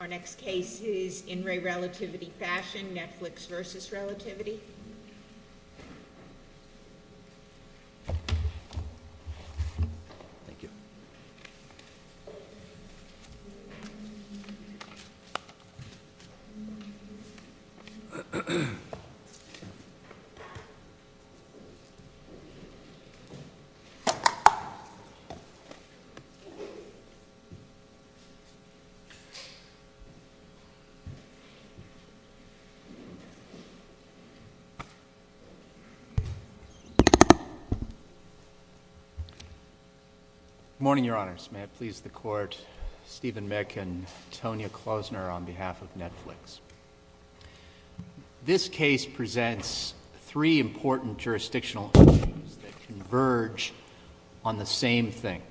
Our next case is In Re Relativity Fashion, Netflix Vs. Relativity Good morning, Your Honors. May it please the Court, Steven Mick and Tonya Klosner on behalf of Netflix. This case presents three important jurisdictional issues that converge on the same thing.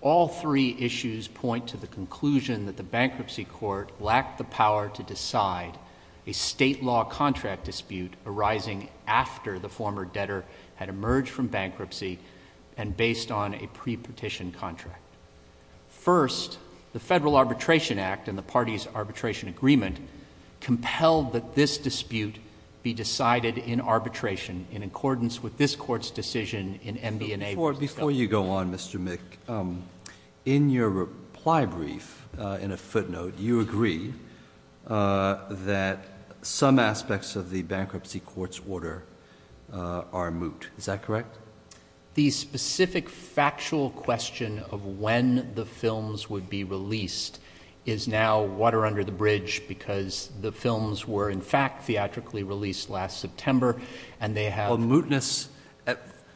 All three issues point to the conclusion that the bankruptcy court lacked the power to decide a state law contract dispute arising after the former debtor had emerged from bankruptcy and based on a pre-petition contract. First, the Federal Arbitration Act and the parties arbitration agreement compelled that this dispute be decided in arbitration in accordance with this court's decision in MBNA. Before you go on, Mr. Mick, in your reply brief, in a footnote, you agree that some aspects of the bankruptcy court's order are moot. Is that correct? The specific factual question of when the films would be released is now water under the bridge because the films were, in fact, theatrically released last September and they have- Mootness,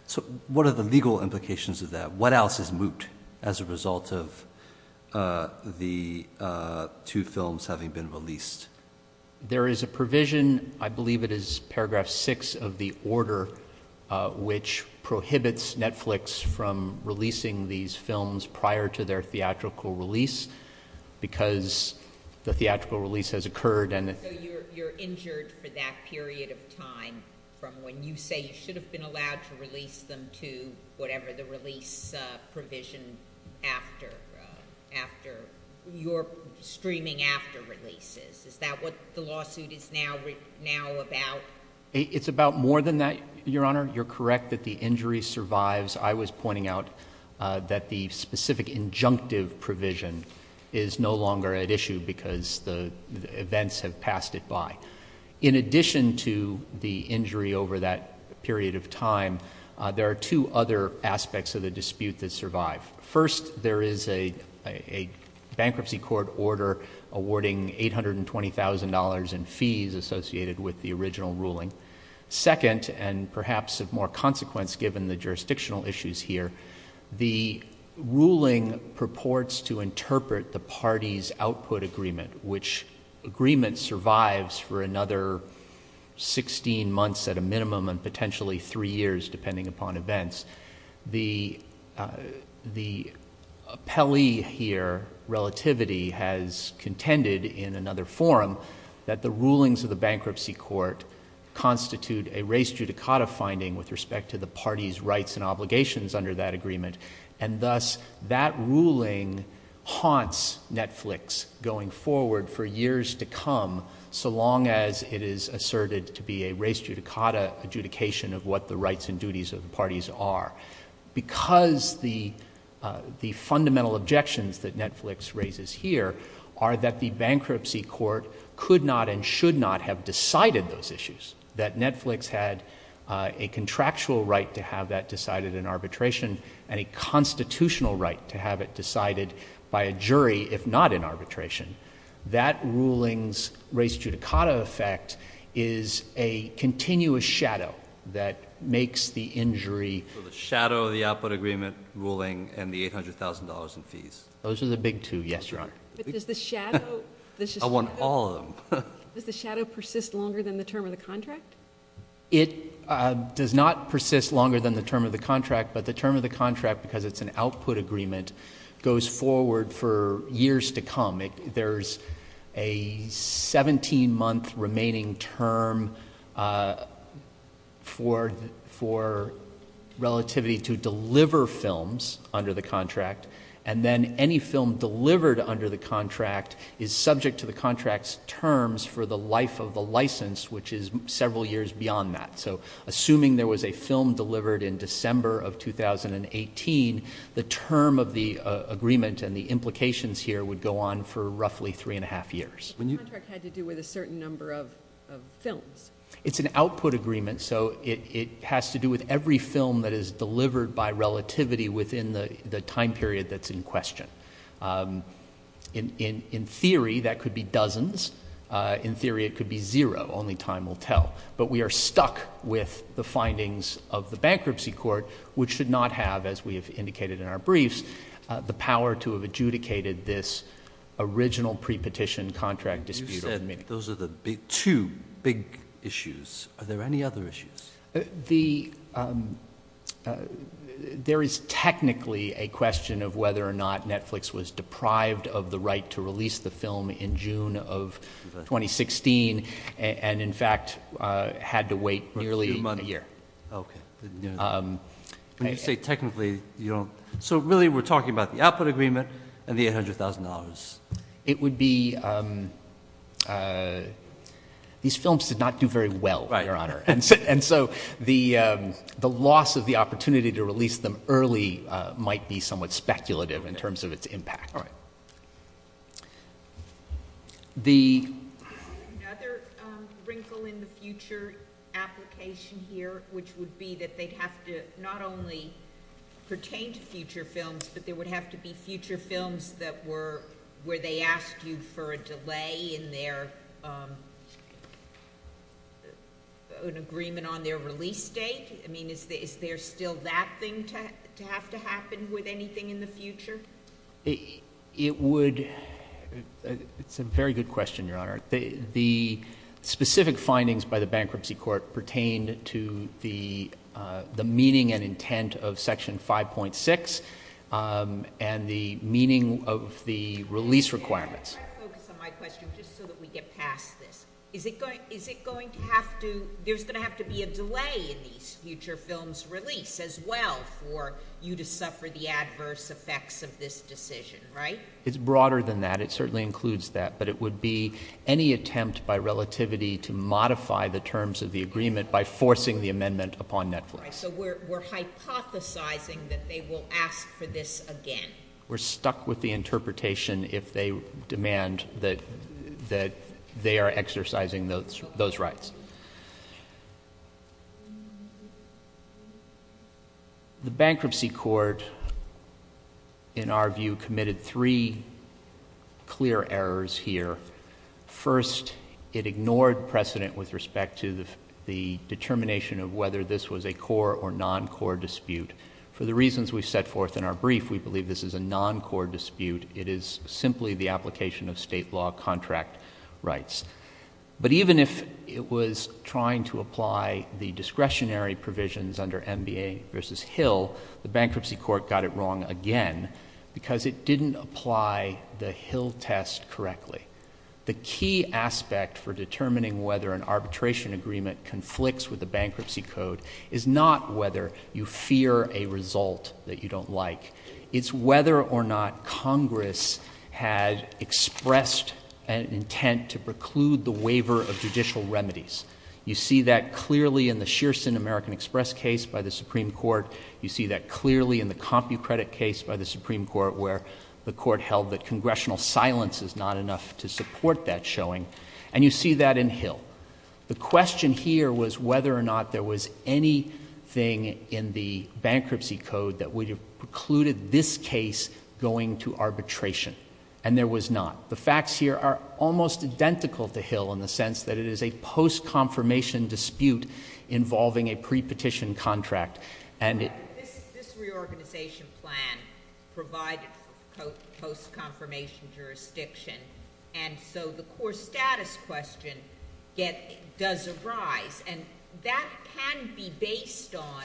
so what are the legal implications of that? What else is moot as a result of the two films having been released? There is a provision, I believe it is paragraph six of the order, which prohibits Netflix from releasing these films prior to their theatrical release because the theatrical release has occurred and- So you're injured for that period of time from when you say you should have been allowed to release them to whatever the release provision after your streaming after-releases. Is that what the lawsuit is now about? It's about more than that, Your Honor. You're correct that the injury survives. I was pointing out that the specific injunctive provision is no longer at issue because the events have passed it by. In addition to the injury over that period of time, there are two other aspects of the dispute that survive. First, there is a bankruptcy court order awarding $820,000 in fees associated with the original ruling. Second, and perhaps of more consequence given the jurisdictional issues here, the ruling purports to interpret the party's output agreement, which agreement survives for another 16 months at a minimum and potentially three years depending upon events. The appellee here, Relativity, has contended in another forum that the rulings of the bankruptcy court constitute a race judicata finding with respect to the party's rights and obligations under that agreement. Thus, that ruling haunts Netflix going forward for years to come so long as it is asserted to be a race judicata adjudication of what the rights and duties of the parties are because the fundamental objections that Netflix raises here are that the bankruptcy court could not and should not have decided those issues, that Netflix had a contractual right to have that decided in arbitration and a constitutional right to have it decided by a jury if not in arbitration. That ruling's race judicata effect is a continuous shadow that makes the injury... So the shadow of the output agreement ruling and the $800,000 in fees. Those are the big two, yes, Your Honor. But does the shadow... I want all of them. Does the shadow persist longer than the term of the contract? It does not persist longer than the term of the contract, but the term of the contract because it's an output agreement goes forward for years to come. There's a 17-month remaining term for relativity to deliver films under the contract, and then any film delivered under the contract is subject to the contract's terms for the life of the license, which is the term of the agreement and the implications here would go on for roughly three and a half years. The contract had to do with a certain number of films. It's an output agreement, so it has to do with every film that is delivered by relativity within the time period that's in question. In theory, that could be dozens. In theory, it could be zero. Only time will tell. But we are stuck with the findings of the bankruptcy court, which should not have, as we have indicated in our briefs, the power to have adjudicated this original pre-petition contract disputed. You said those are the two big issues. Are there any other issues? There is technically a question of whether or not Netflix was deprived of the right to release the film in June of 2016 and, in fact, had to wait nearly a year. When you say technically, you don't... So really, we're talking about the output agreement and the $800,000. It would be... These films did not do very well, Your Honor, and so the loss of the opportunity to release them early might be somewhat speculative in terms of its impact. All right. The... Another wrinkle in the future application here, which would be that they'd have to not only pertain to future films, but there would have to be future films that were... Where they asked you for a delay in their... An agreement on their release date? Is there still that thing to have to happen with anything in the future? It would... It's a very good question, Your Honor. The specific findings by the bankruptcy court pertain to the meaning and intent of Section 5.6 and the meaning of the release requirements. Can I focus on my question just so that we get past this? Is it going to have to... There's going to have to be a delay in these future films' release as well for you to suffer the consequences of this decision, right? It's broader than that. It certainly includes that, but it would be any attempt by relativity to modify the terms of the agreement by forcing the amendment upon Netflix. All right. So we're hypothesizing that they will ask for this again. We're stuck with the interpretation if they demand that they are exercising those rights. The bankruptcy court, in our view, committed three clear errors here. First, it ignored precedent with respect to the determination of whether this was a core or non-core dispute. For the reasons we set forth in our brief, we believe this is a non-core dispute. It is simply the application of state law contract rights. But even if it was trying to apply the discretionary provisions under MBA v. Hill, the bankruptcy court got it wrong again because it didn't apply the Hill test correctly. The key aspect for determining whether an arbitration agreement conflicts with the bankruptcy code is not whether you fear a result that you don't like. It's whether or not Congress had expressed an intent to preclude the waiver of judicial remedies. You see that clearly in the Shearson American Express case by the Supreme Court. You see that clearly in the CompuCredit case by the Supreme Court, where the Court held that congressional silence is not enough to support that showing. And you see that in Hill. The question here was whether or not there was anything in the bankruptcy code that would have precluded this case going to arbitration. And there was not. The facts here are almost identical to Hill in the sense that it is a post-confirmation dispute involving a pre-petition contract. And this reorganization plan provided post-confirmation jurisdiction, and so the core status question does arise. And that can be based on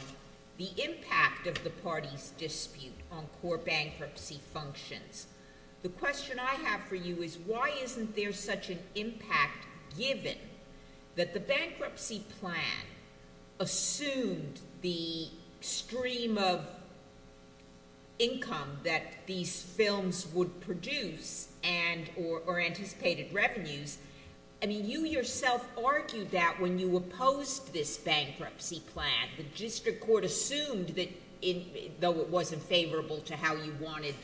the impact of the party's dispute on core bankruptcy functions. The question I have for you is, why isn't there such an impact given that the bankruptcy plan assumed the stream of income that these films would produce and or anticipated revenues? I mean, you yourself argued that when you opposed this bankruptcy plan, the district court assumed that, though it was unfavorable to how you wanted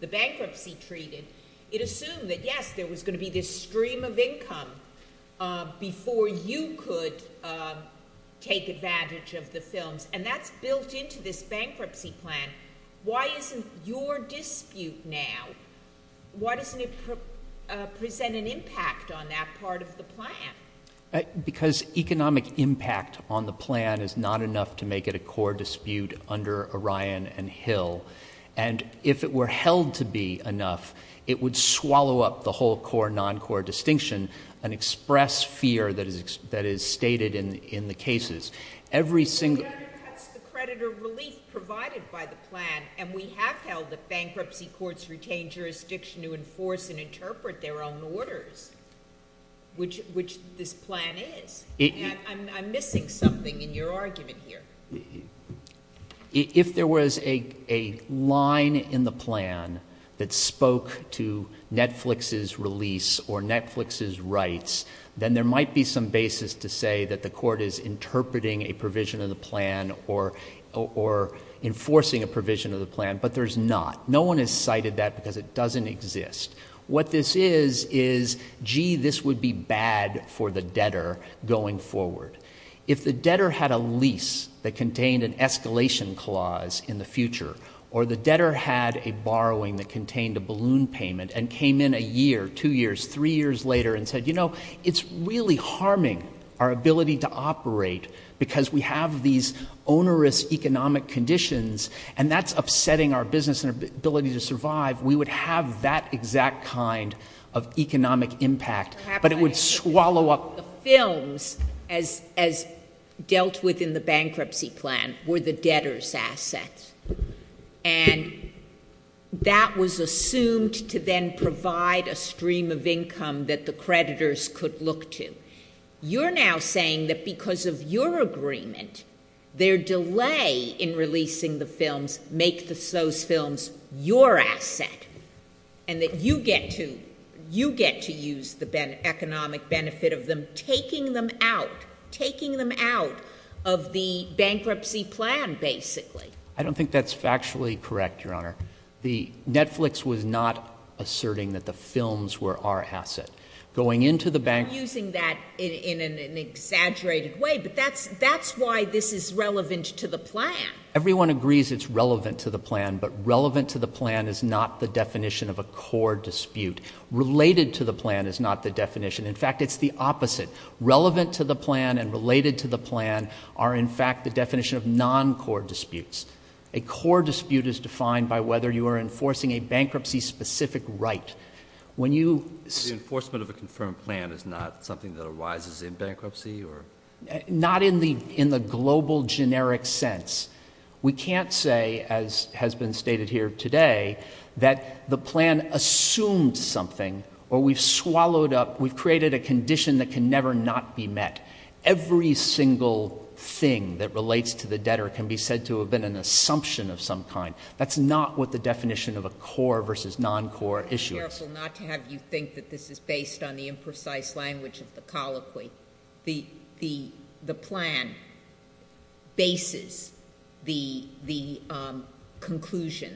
the bankruptcy treated, it assumed that, yes, there was going to be this stream of income before you could take advantage of the films. And that's built into this bankruptcy plan. Why isn't your argument that this would present an impact on that part of the plan? Because economic impact on the plan is not enough to make it a core dispute under Orion and Hill. And if it were held to be enough, it would swallow up the whole core-non-core distinction and express fear that is stated in the cases. Every single— But that's the creditor relief provided by the plan, and we have held that bankruptcy courts retain jurisdiction to enforce and interpret their own orders, which this plan is. I'm missing something in your argument here. If there was a line in the plan that spoke to Netflix's release or Netflix's rights, then there might be some basis to say that the court is interpreting a provision of the plan as a way to say, you know, we cited that because it doesn't exist. What this is, is, gee, this would be bad for the debtor going forward. If the debtor had a lease that contained an escalation clause in the future, or the debtor had a borrowing that contained a balloon payment and came in a year, two years, three years later and said, you know, it's really harming our ability to operate because we have these onerous economic conditions, and that's upsetting our business and our ability to survive, we would have that exact kind of economic impact, but it would swallow up— Perhaps I should add that the films, as dealt with in the bankruptcy plan, were the debtor's assets, and that was assumed to then provide a stream of income that the creditors could look to. You're now saying that because of your agreement, their delay in releasing the films makes those films your asset, and that you get to, you get to use the economic benefit of them, taking them out, taking them out of the bankruptcy plan, basically. I don't think that's factually correct, Your Honor. The—Netflix was not asserting that the films were our asset. Going into the bank— You're using that in an exaggerated way, but that's why this is relevant to the plan. Everyone agrees it's relevant to the plan, but relevant to the plan is not the definition of a core dispute. Related to the plan is not the definition. In fact, it's the opposite. Relevant to the plan and related to the plan are, in fact, the definition of non-core disputes. A core dispute is defined by whether you are enforcing a bankruptcy-specific right. When you— The enforcement of a confirmed plan is not something that arises in bankruptcy, or— Not in the, in the global generic sense. We can't say, as has been stated here today, that the plan assumed something, or we've swallowed up, we've created a condition that can never not be met. Every single thing that relates to the debtor can be said to have been an assumption of some kind. That's not what the definition of a core versus non-core issue is. I'm careful not to have you think that this is based on the imprecise language of the plan, bases the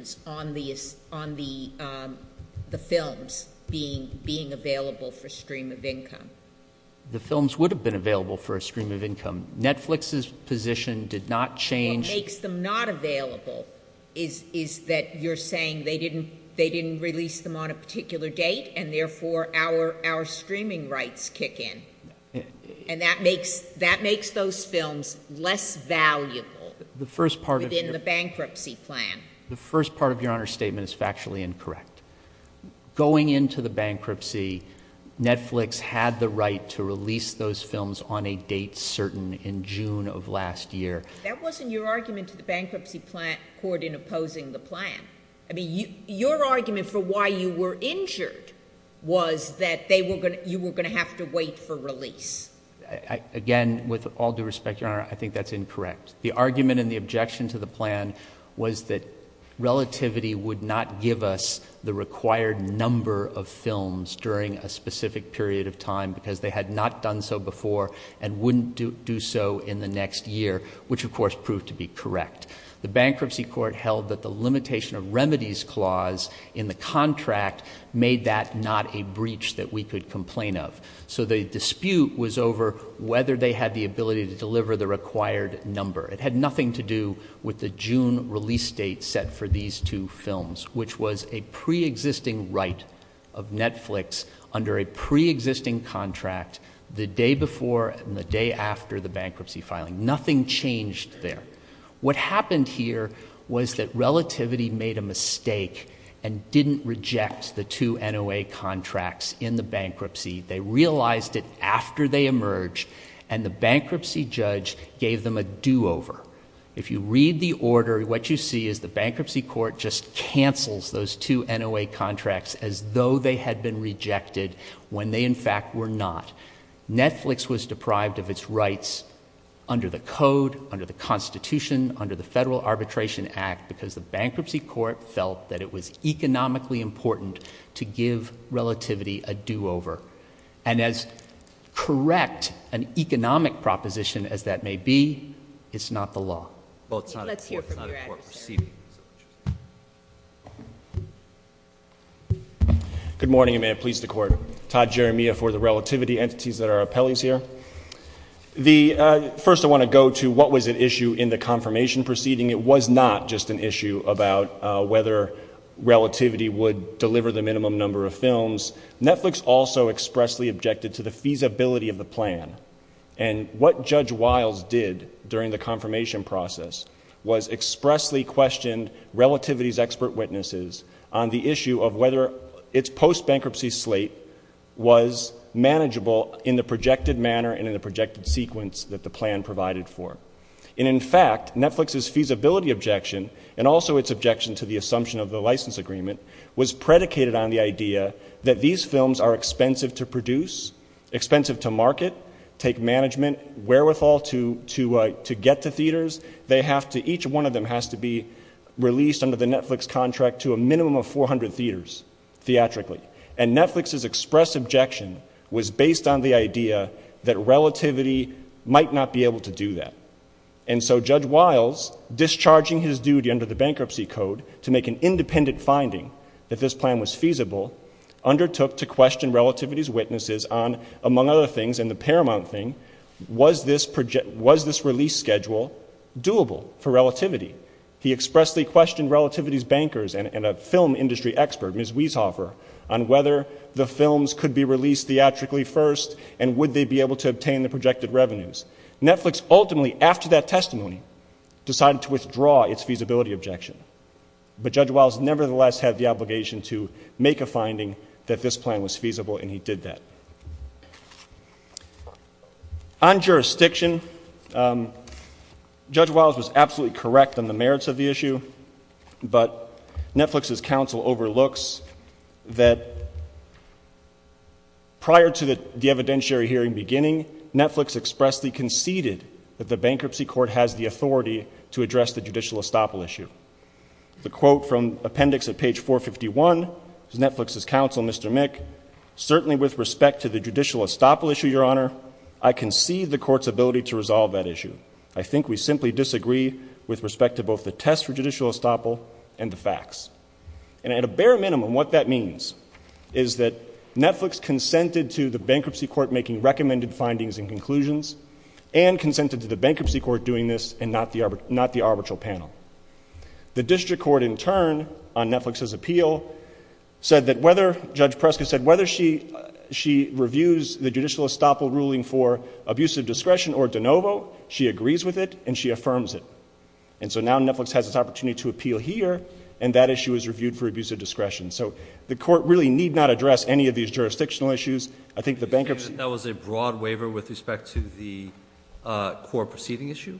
conclusions on the films being available for stream of income. The films would have been available for a stream of income. Netflix's position did not change— What makes them not available is that you're saying they didn't release them on a particular date, and therefore our, our streaming rights kick in. And that makes, that makes those films less valuable— The first part of your— —within the bankruptcy plan. The first part of Your Honor's statement is factually incorrect. Going into the bankruptcy, Netflix had the right to release those films on a date certain in June of last year. That wasn't your argument to the bankruptcy court in opposing the plan. I mean, your argument for why you were injured was that they were going to, you were going to have to wait for release. Again, with all due respect, Your Honor, I think that's incorrect. The argument and the objection to the plan was that relativity would not give us the required number of films during a specific period of time because they had not done so before and wouldn't do, do so in the next year, which of course proved to be correct. The bankruptcy court held that the limitation of remedies clause in the contract made that not a breach that we could complain of. So the dispute was over whether they had the ability to deliver the required number. It had nothing to do with the June release date set for these two films, which was a pre-existing right of Netflix under a pre-existing contract the day before and the day after the bankruptcy filing. Nothing changed there. What happened here was that relativity made a mistake and didn't reject the two NOA contracts in the bankruptcy. They realized it after they emerged and the bankruptcy judge gave them a do-over. If you read the order, what you see is the bankruptcy court just cancels those two NOA contracts as though they had been rejected when they in fact were not. Netflix was deprived of its rights under the code, under the Constitution, under the Federal Arbitration Act because the bankruptcy court felt that it was economically important to give relativity a do-over. And as correct an economic proposition as that may be, it's not the law. Well, it's not a court proceeding. Good morning, and may it please the Court. Todd Jeremia for the relativity entities that are appellees here. First, I want to go to what was an issue in the confirmation proceeding. It was not just an issue about whether relativity would deliver the minimum number of films. Netflix also expressly objected to the feasibility of the plan. And what Judge Wiles did during the confirmation process was expressly questioned relativity's expert witnesses on the issue of whether its post-bankruptcy slate was manageable in the projected manner and in the projected sequence that the plan provided for. And in fact, Netflix's feasibility objection and also its objection to the assumption of the license agreement was predicated on the idea that these films are expensive to produce, expensive to market, take management wherewithal to get to theaters. Each one of them has to be released under the Netflix contract to a minimum of 400 theaters theatrically. And Netflix's express objection was based on the idea that relativity might not be able to do that. And so Judge Wiles, discharging his duty under the bankruptcy code to make an independent finding that this plan was feasible, undertook to question relativity's witnesses on, among other things, and the paramount thing, was this release schedule doable for relativity? He expressly questioned relativity's bankers and a film industry expert, Ms. Weishoffer, on whether the films could be released theatrically first and would they be able to obtain the projected revenues. Netflix ultimately, after that testimony, decided to withdraw its feasibility objection. But Judge Wiles nevertheless had the obligation to make a finding that this plan was feasible and he did that. On jurisdiction, Judge Wiles was absolutely correct on the merits of the issue, but Netflix's counsel overlooks that prior to the evidentiary hearing beginning, Netflix expressly conceded that the bankruptcy court has the authority to address the judicial estoppel issue. The quote from appendix at page 451 is Netflix's counsel, Mr. Mick, certainly with respect to the judicial estoppel issue, your honor, I concede the court's ability to resolve that issue. I think we simply disagree with respect to both the test for judicial estoppel and the facts. And at a bare minimum, what that means is that Netflix consented to the bankruptcy court making recommended findings and conclusions and consented to the bankruptcy court doing this and not the arbitral panel. The district court in turn on Netflix's appeal said that whether, Judge Prescott said whether she reviews the judicial estoppel ruling for abusive discretion or de novo, she agrees with it and she affirms it. And so now Netflix has this opportunity to appeal here and that issue is reviewed for abusive discretion. So the court really need not address any of these jurisdictional issues. I think the bankruptcy That was a broad waiver with respect to the court proceeding issue.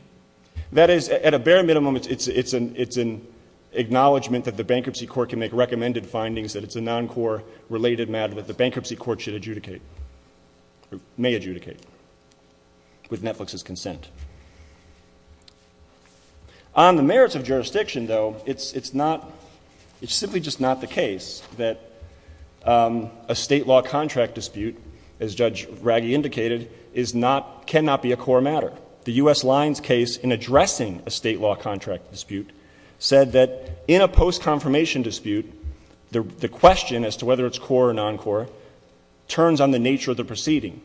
That is at a bare minimum, it's an acknowledgement that the bankruptcy court can make recommended findings that it's a non-court related matter that the bankruptcy court should adjudicate or may adjudicate with Netflix's consent. On the merits of jurisdiction, though, it's simply just not the case that a state law contract dispute, as Judge Raggi indicated, cannot be a core matter. The U.S. Lines case in addressing a state law contract dispute said that in a post-confirmation dispute, the question as to whether it's core or non-core turns on the nature of the proceeding.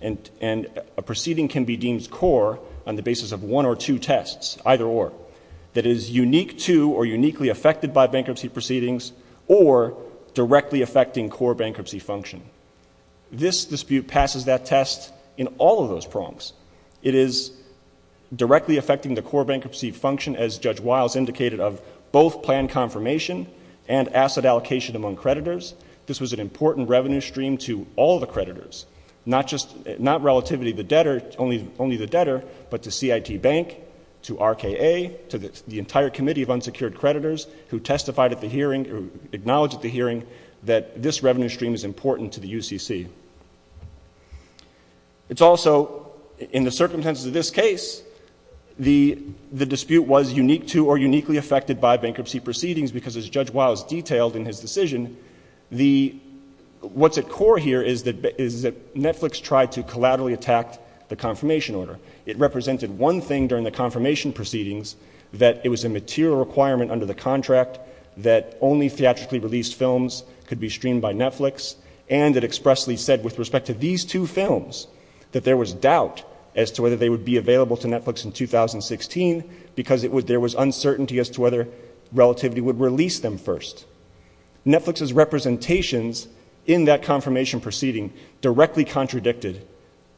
And a proceeding can be deemed core on the basis of one or two tests, either or, that is unique to or uniquely affected by bankruptcy proceedings or directly affecting core bankruptcy function. This dispute passes that test in all of those prongs. It is directly affecting the core bankruptcy function, as Judge Wiles indicated, of both plan confirmation and asset allocation among creditors. This was an important revenue stream to all the creditors, not just, not exclusively, unsecured creditors who testified at the hearing or acknowledged at the hearing that this revenue stream is important to the UCC. It's also, in the circumstances of this case, the dispute was unique to or uniquely affected by bankruptcy proceedings because, as Judge Wiles detailed in his decision, what's at core here is that Netflix tried to collaterally attack the confirmation order. It represented one thing during the confirmation proceedings, that it was a material requirement under the contract that only theatrically released films could be streamed by Netflix, and it expressly said with respect to these two films that there was doubt as to whether they would be available to Netflix in 2016 because there was uncertainty as to whether Relativity would release them first. Netflix's representations in that confirmation proceeding directly contradicted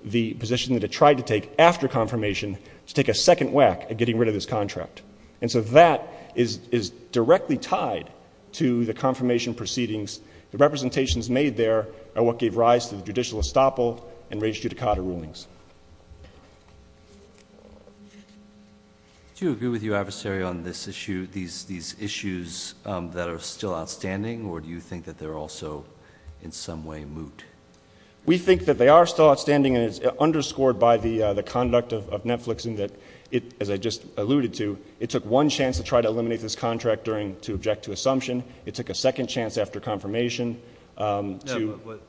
the position that it tried to take after confirmation, to take a second whack at getting rid of this contract. And so that is directly tied to the confirmation proceedings. The representations made there are what gave rise to the judicial estoppel and raised judicata rulings. Do you agree with your adversary on this issue, these issues that are still outstanding, or do you think that they're also in some way moot? We think that they are still outstanding, and it's underscored by the conduct of Netflix in that, as I just alluded to, it took one chance to try to eliminate this contract to object to assumption. It took a second chance after confirmation to...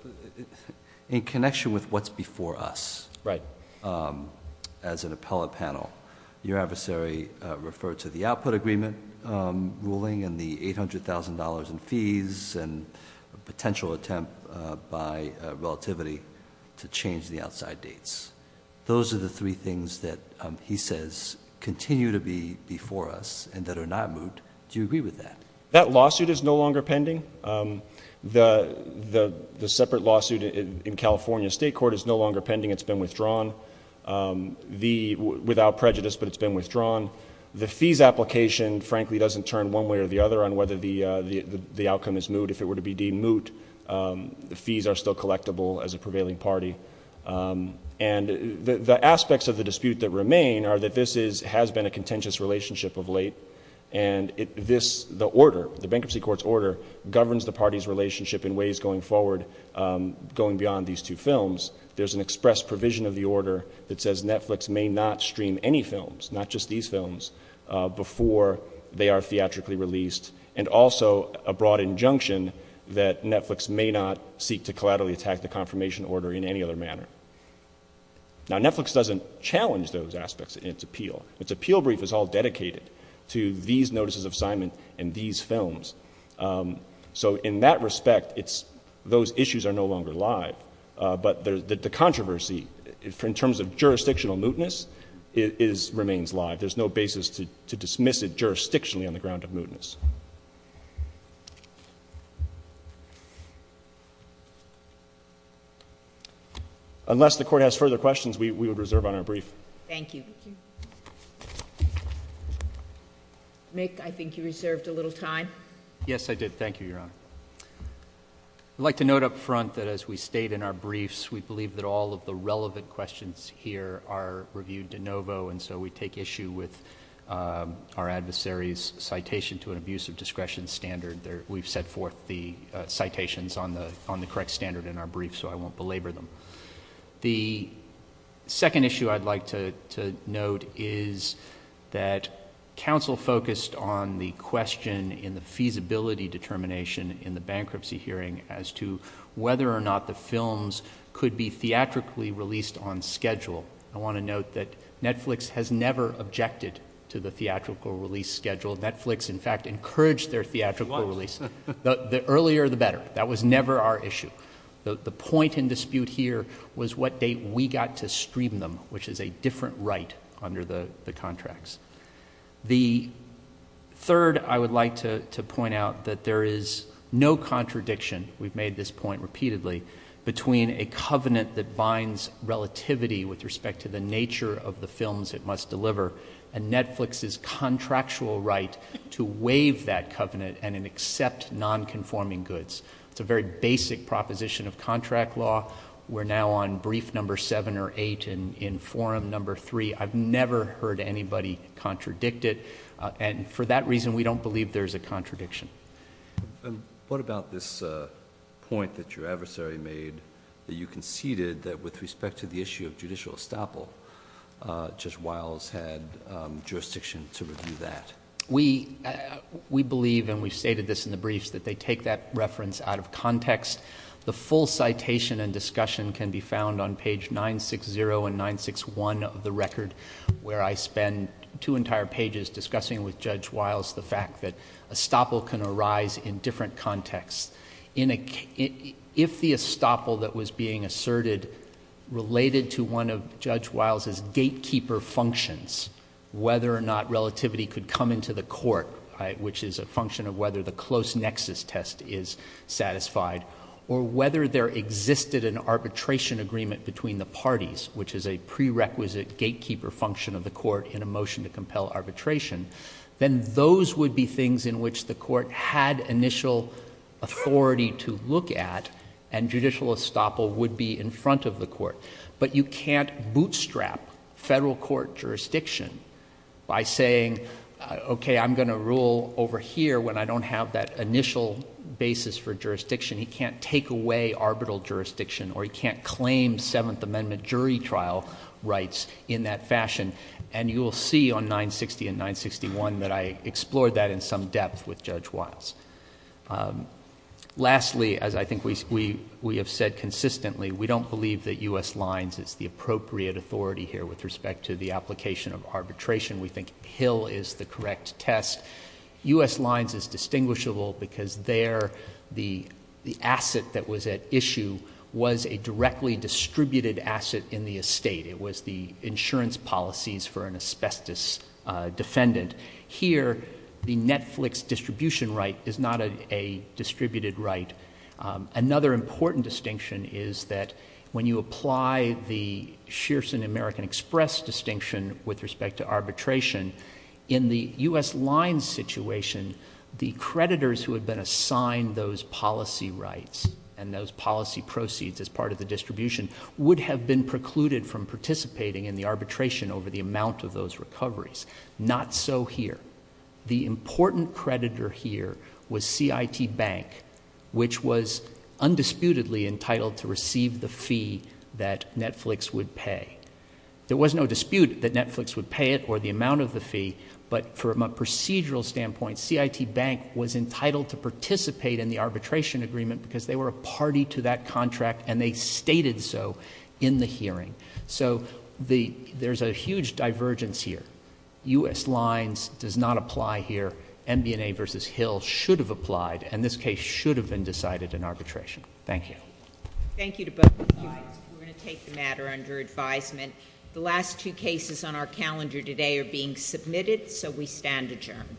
In connection with what's before us, as an appellate panel, your adversary referred to the output agreement ruling and the $800,000 in fees and a potential attempt by Netflix and Relativity to change the outside dates. Those are the three things that he says continue to be before us and that are not moot. Do you agree with that? That lawsuit is no longer pending. The separate lawsuit in California State Court is no longer pending. It's been withdrawn without prejudice, but it's been withdrawn. The fees application, frankly, doesn't turn one way or the other on whether the outcome is moot. If it were to be deemed moot, the fees are still collectible as a prevailing party. The aspects of the dispute that remain are that this has been a contentious relationship of late, and the order, the bankruptcy court's order, governs the party's relationship in ways going forward, going beyond these two films. There's an express provision of the order that says Netflix may not stream any films, not just these films, before they are that Netflix may not seek to collaterally attack the confirmation order in any other manner. Now, Netflix doesn't challenge those aspects in its appeal. Its appeal brief is all dedicated to these notices of assignment and these films. So in that respect, those issues are no longer live, but the controversy, in terms of jurisdictional mootness, remains live. There's no basis to dismiss it jurisdictionally on the ground of mootness. Unless the Court has further questions, we would reserve on our brief. Thank you. Mick, I think you reserved a little time. Yes, I did. Thank you, Your Honor. I'd like to note up front that as we state in our briefs, we believe that all of the relevant questions here are reviewed de novo, and so we take issue with our adversary's citation to an abuse of discretion standard. We've set forth the citations on the correct standard in our brief, so I won't belabor them. The second issue I'd like to note is that counsel focused on the question in the feasibility determination in the bankruptcy hearing as to whether or not the films could be theatrically released on schedule. I want to note that Netflix has never objected to the theatrical release schedule. Netflix, in fact, encouraged their theatrical release. The earlier, the better. That was never our issue. The point in dispute here was what date we got to stream them, which is a different right under the contracts. The third, I would like to point out that there is no contradiction, we've made this point repeatedly, between a covenant that binds relativity with respect to the nature of the films it must deliver and Netflix's contractual right to waive that covenant and accept nonconforming goods. It's a very basic proposition of contract law. We're now on brief number seven or eight in forum number three. I've never heard anybody contradict it. For that reason, we don't believe there's a contradiction. What about this point that your adversary made, that you conceded that with respect to the issue of judicial estoppel, Judge Wiles had jurisdiction to review that? We believe, and we've stated this in the briefs, that they take that reference out of context. The full citation and discussion can be found on page 960 and 961 of the record, where I spend two entire pages discussing with Judge Wiles the fact that estoppel can arise in different contexts. If the estoppel that was being asserted related to one of Judge Wiles's gatekeeper functions, whether or not relativity could come into the court, which is a function of whether the close nexus test is satisfied, or whether there existed an arbitration agreement between the parties, which is a prerequisite gatekeeper function of the court in a motion to compel arbitration, then those would be things in which the court had initial authority to look at, and judicial estoppel would be in front of the court. But you can't bootstrap federal court jurisdiction by saying, okay, I'm going to rule over here when I don't have that initial basis for jurisdiction. He can't take away arbitral jurisdiction, or he can't claim Seventh Amendment jury trial rights in that fashion. And you will see on 960 and 961 that I explored that in some depth with Judge Wiles. Lastly, as I think we have said consistently, we don't believe that U.S. Lines is the appropriate authority here with respect to the application of arbitration. We think Hill is the correct test. U.S. Lines is distinguishable because there the asset that was at issue was a directly distributed asset in the estate. It was the insurance policies for an asbestos defendant. Here, the Netflix distribution right is not a distributed right. Another important distinction is that when you apply the Shearson American Express distinction with respect to arbitration, in the U.S. Lines situation, the creditors who had been assigned those policy rights and those policy proceeds as part of the distribution would have been precluded from participating in the arbitration over the amount of those recoveries. Not so here. The important creditor here was CIT Bank, which was undisputedly entitled to receive the fee that Netflix would pay. There was no dispute that Netflix would pay it or the amount of the fee, but from a procedural standpoint, CIT Bank was entitled to participate in the arbitration agreement because they were a party to that contract, and they stated so in the hearing. So there is a huge divergence here. U.S. Lines does not apply here. MB&A v. Hill should have applied, and this case should have been decided in arbitration. Thank you. Thank you to both sides. We're going to take the matter under advisement. The last two cases on our calendar today are being submitted, so we stand adjourned.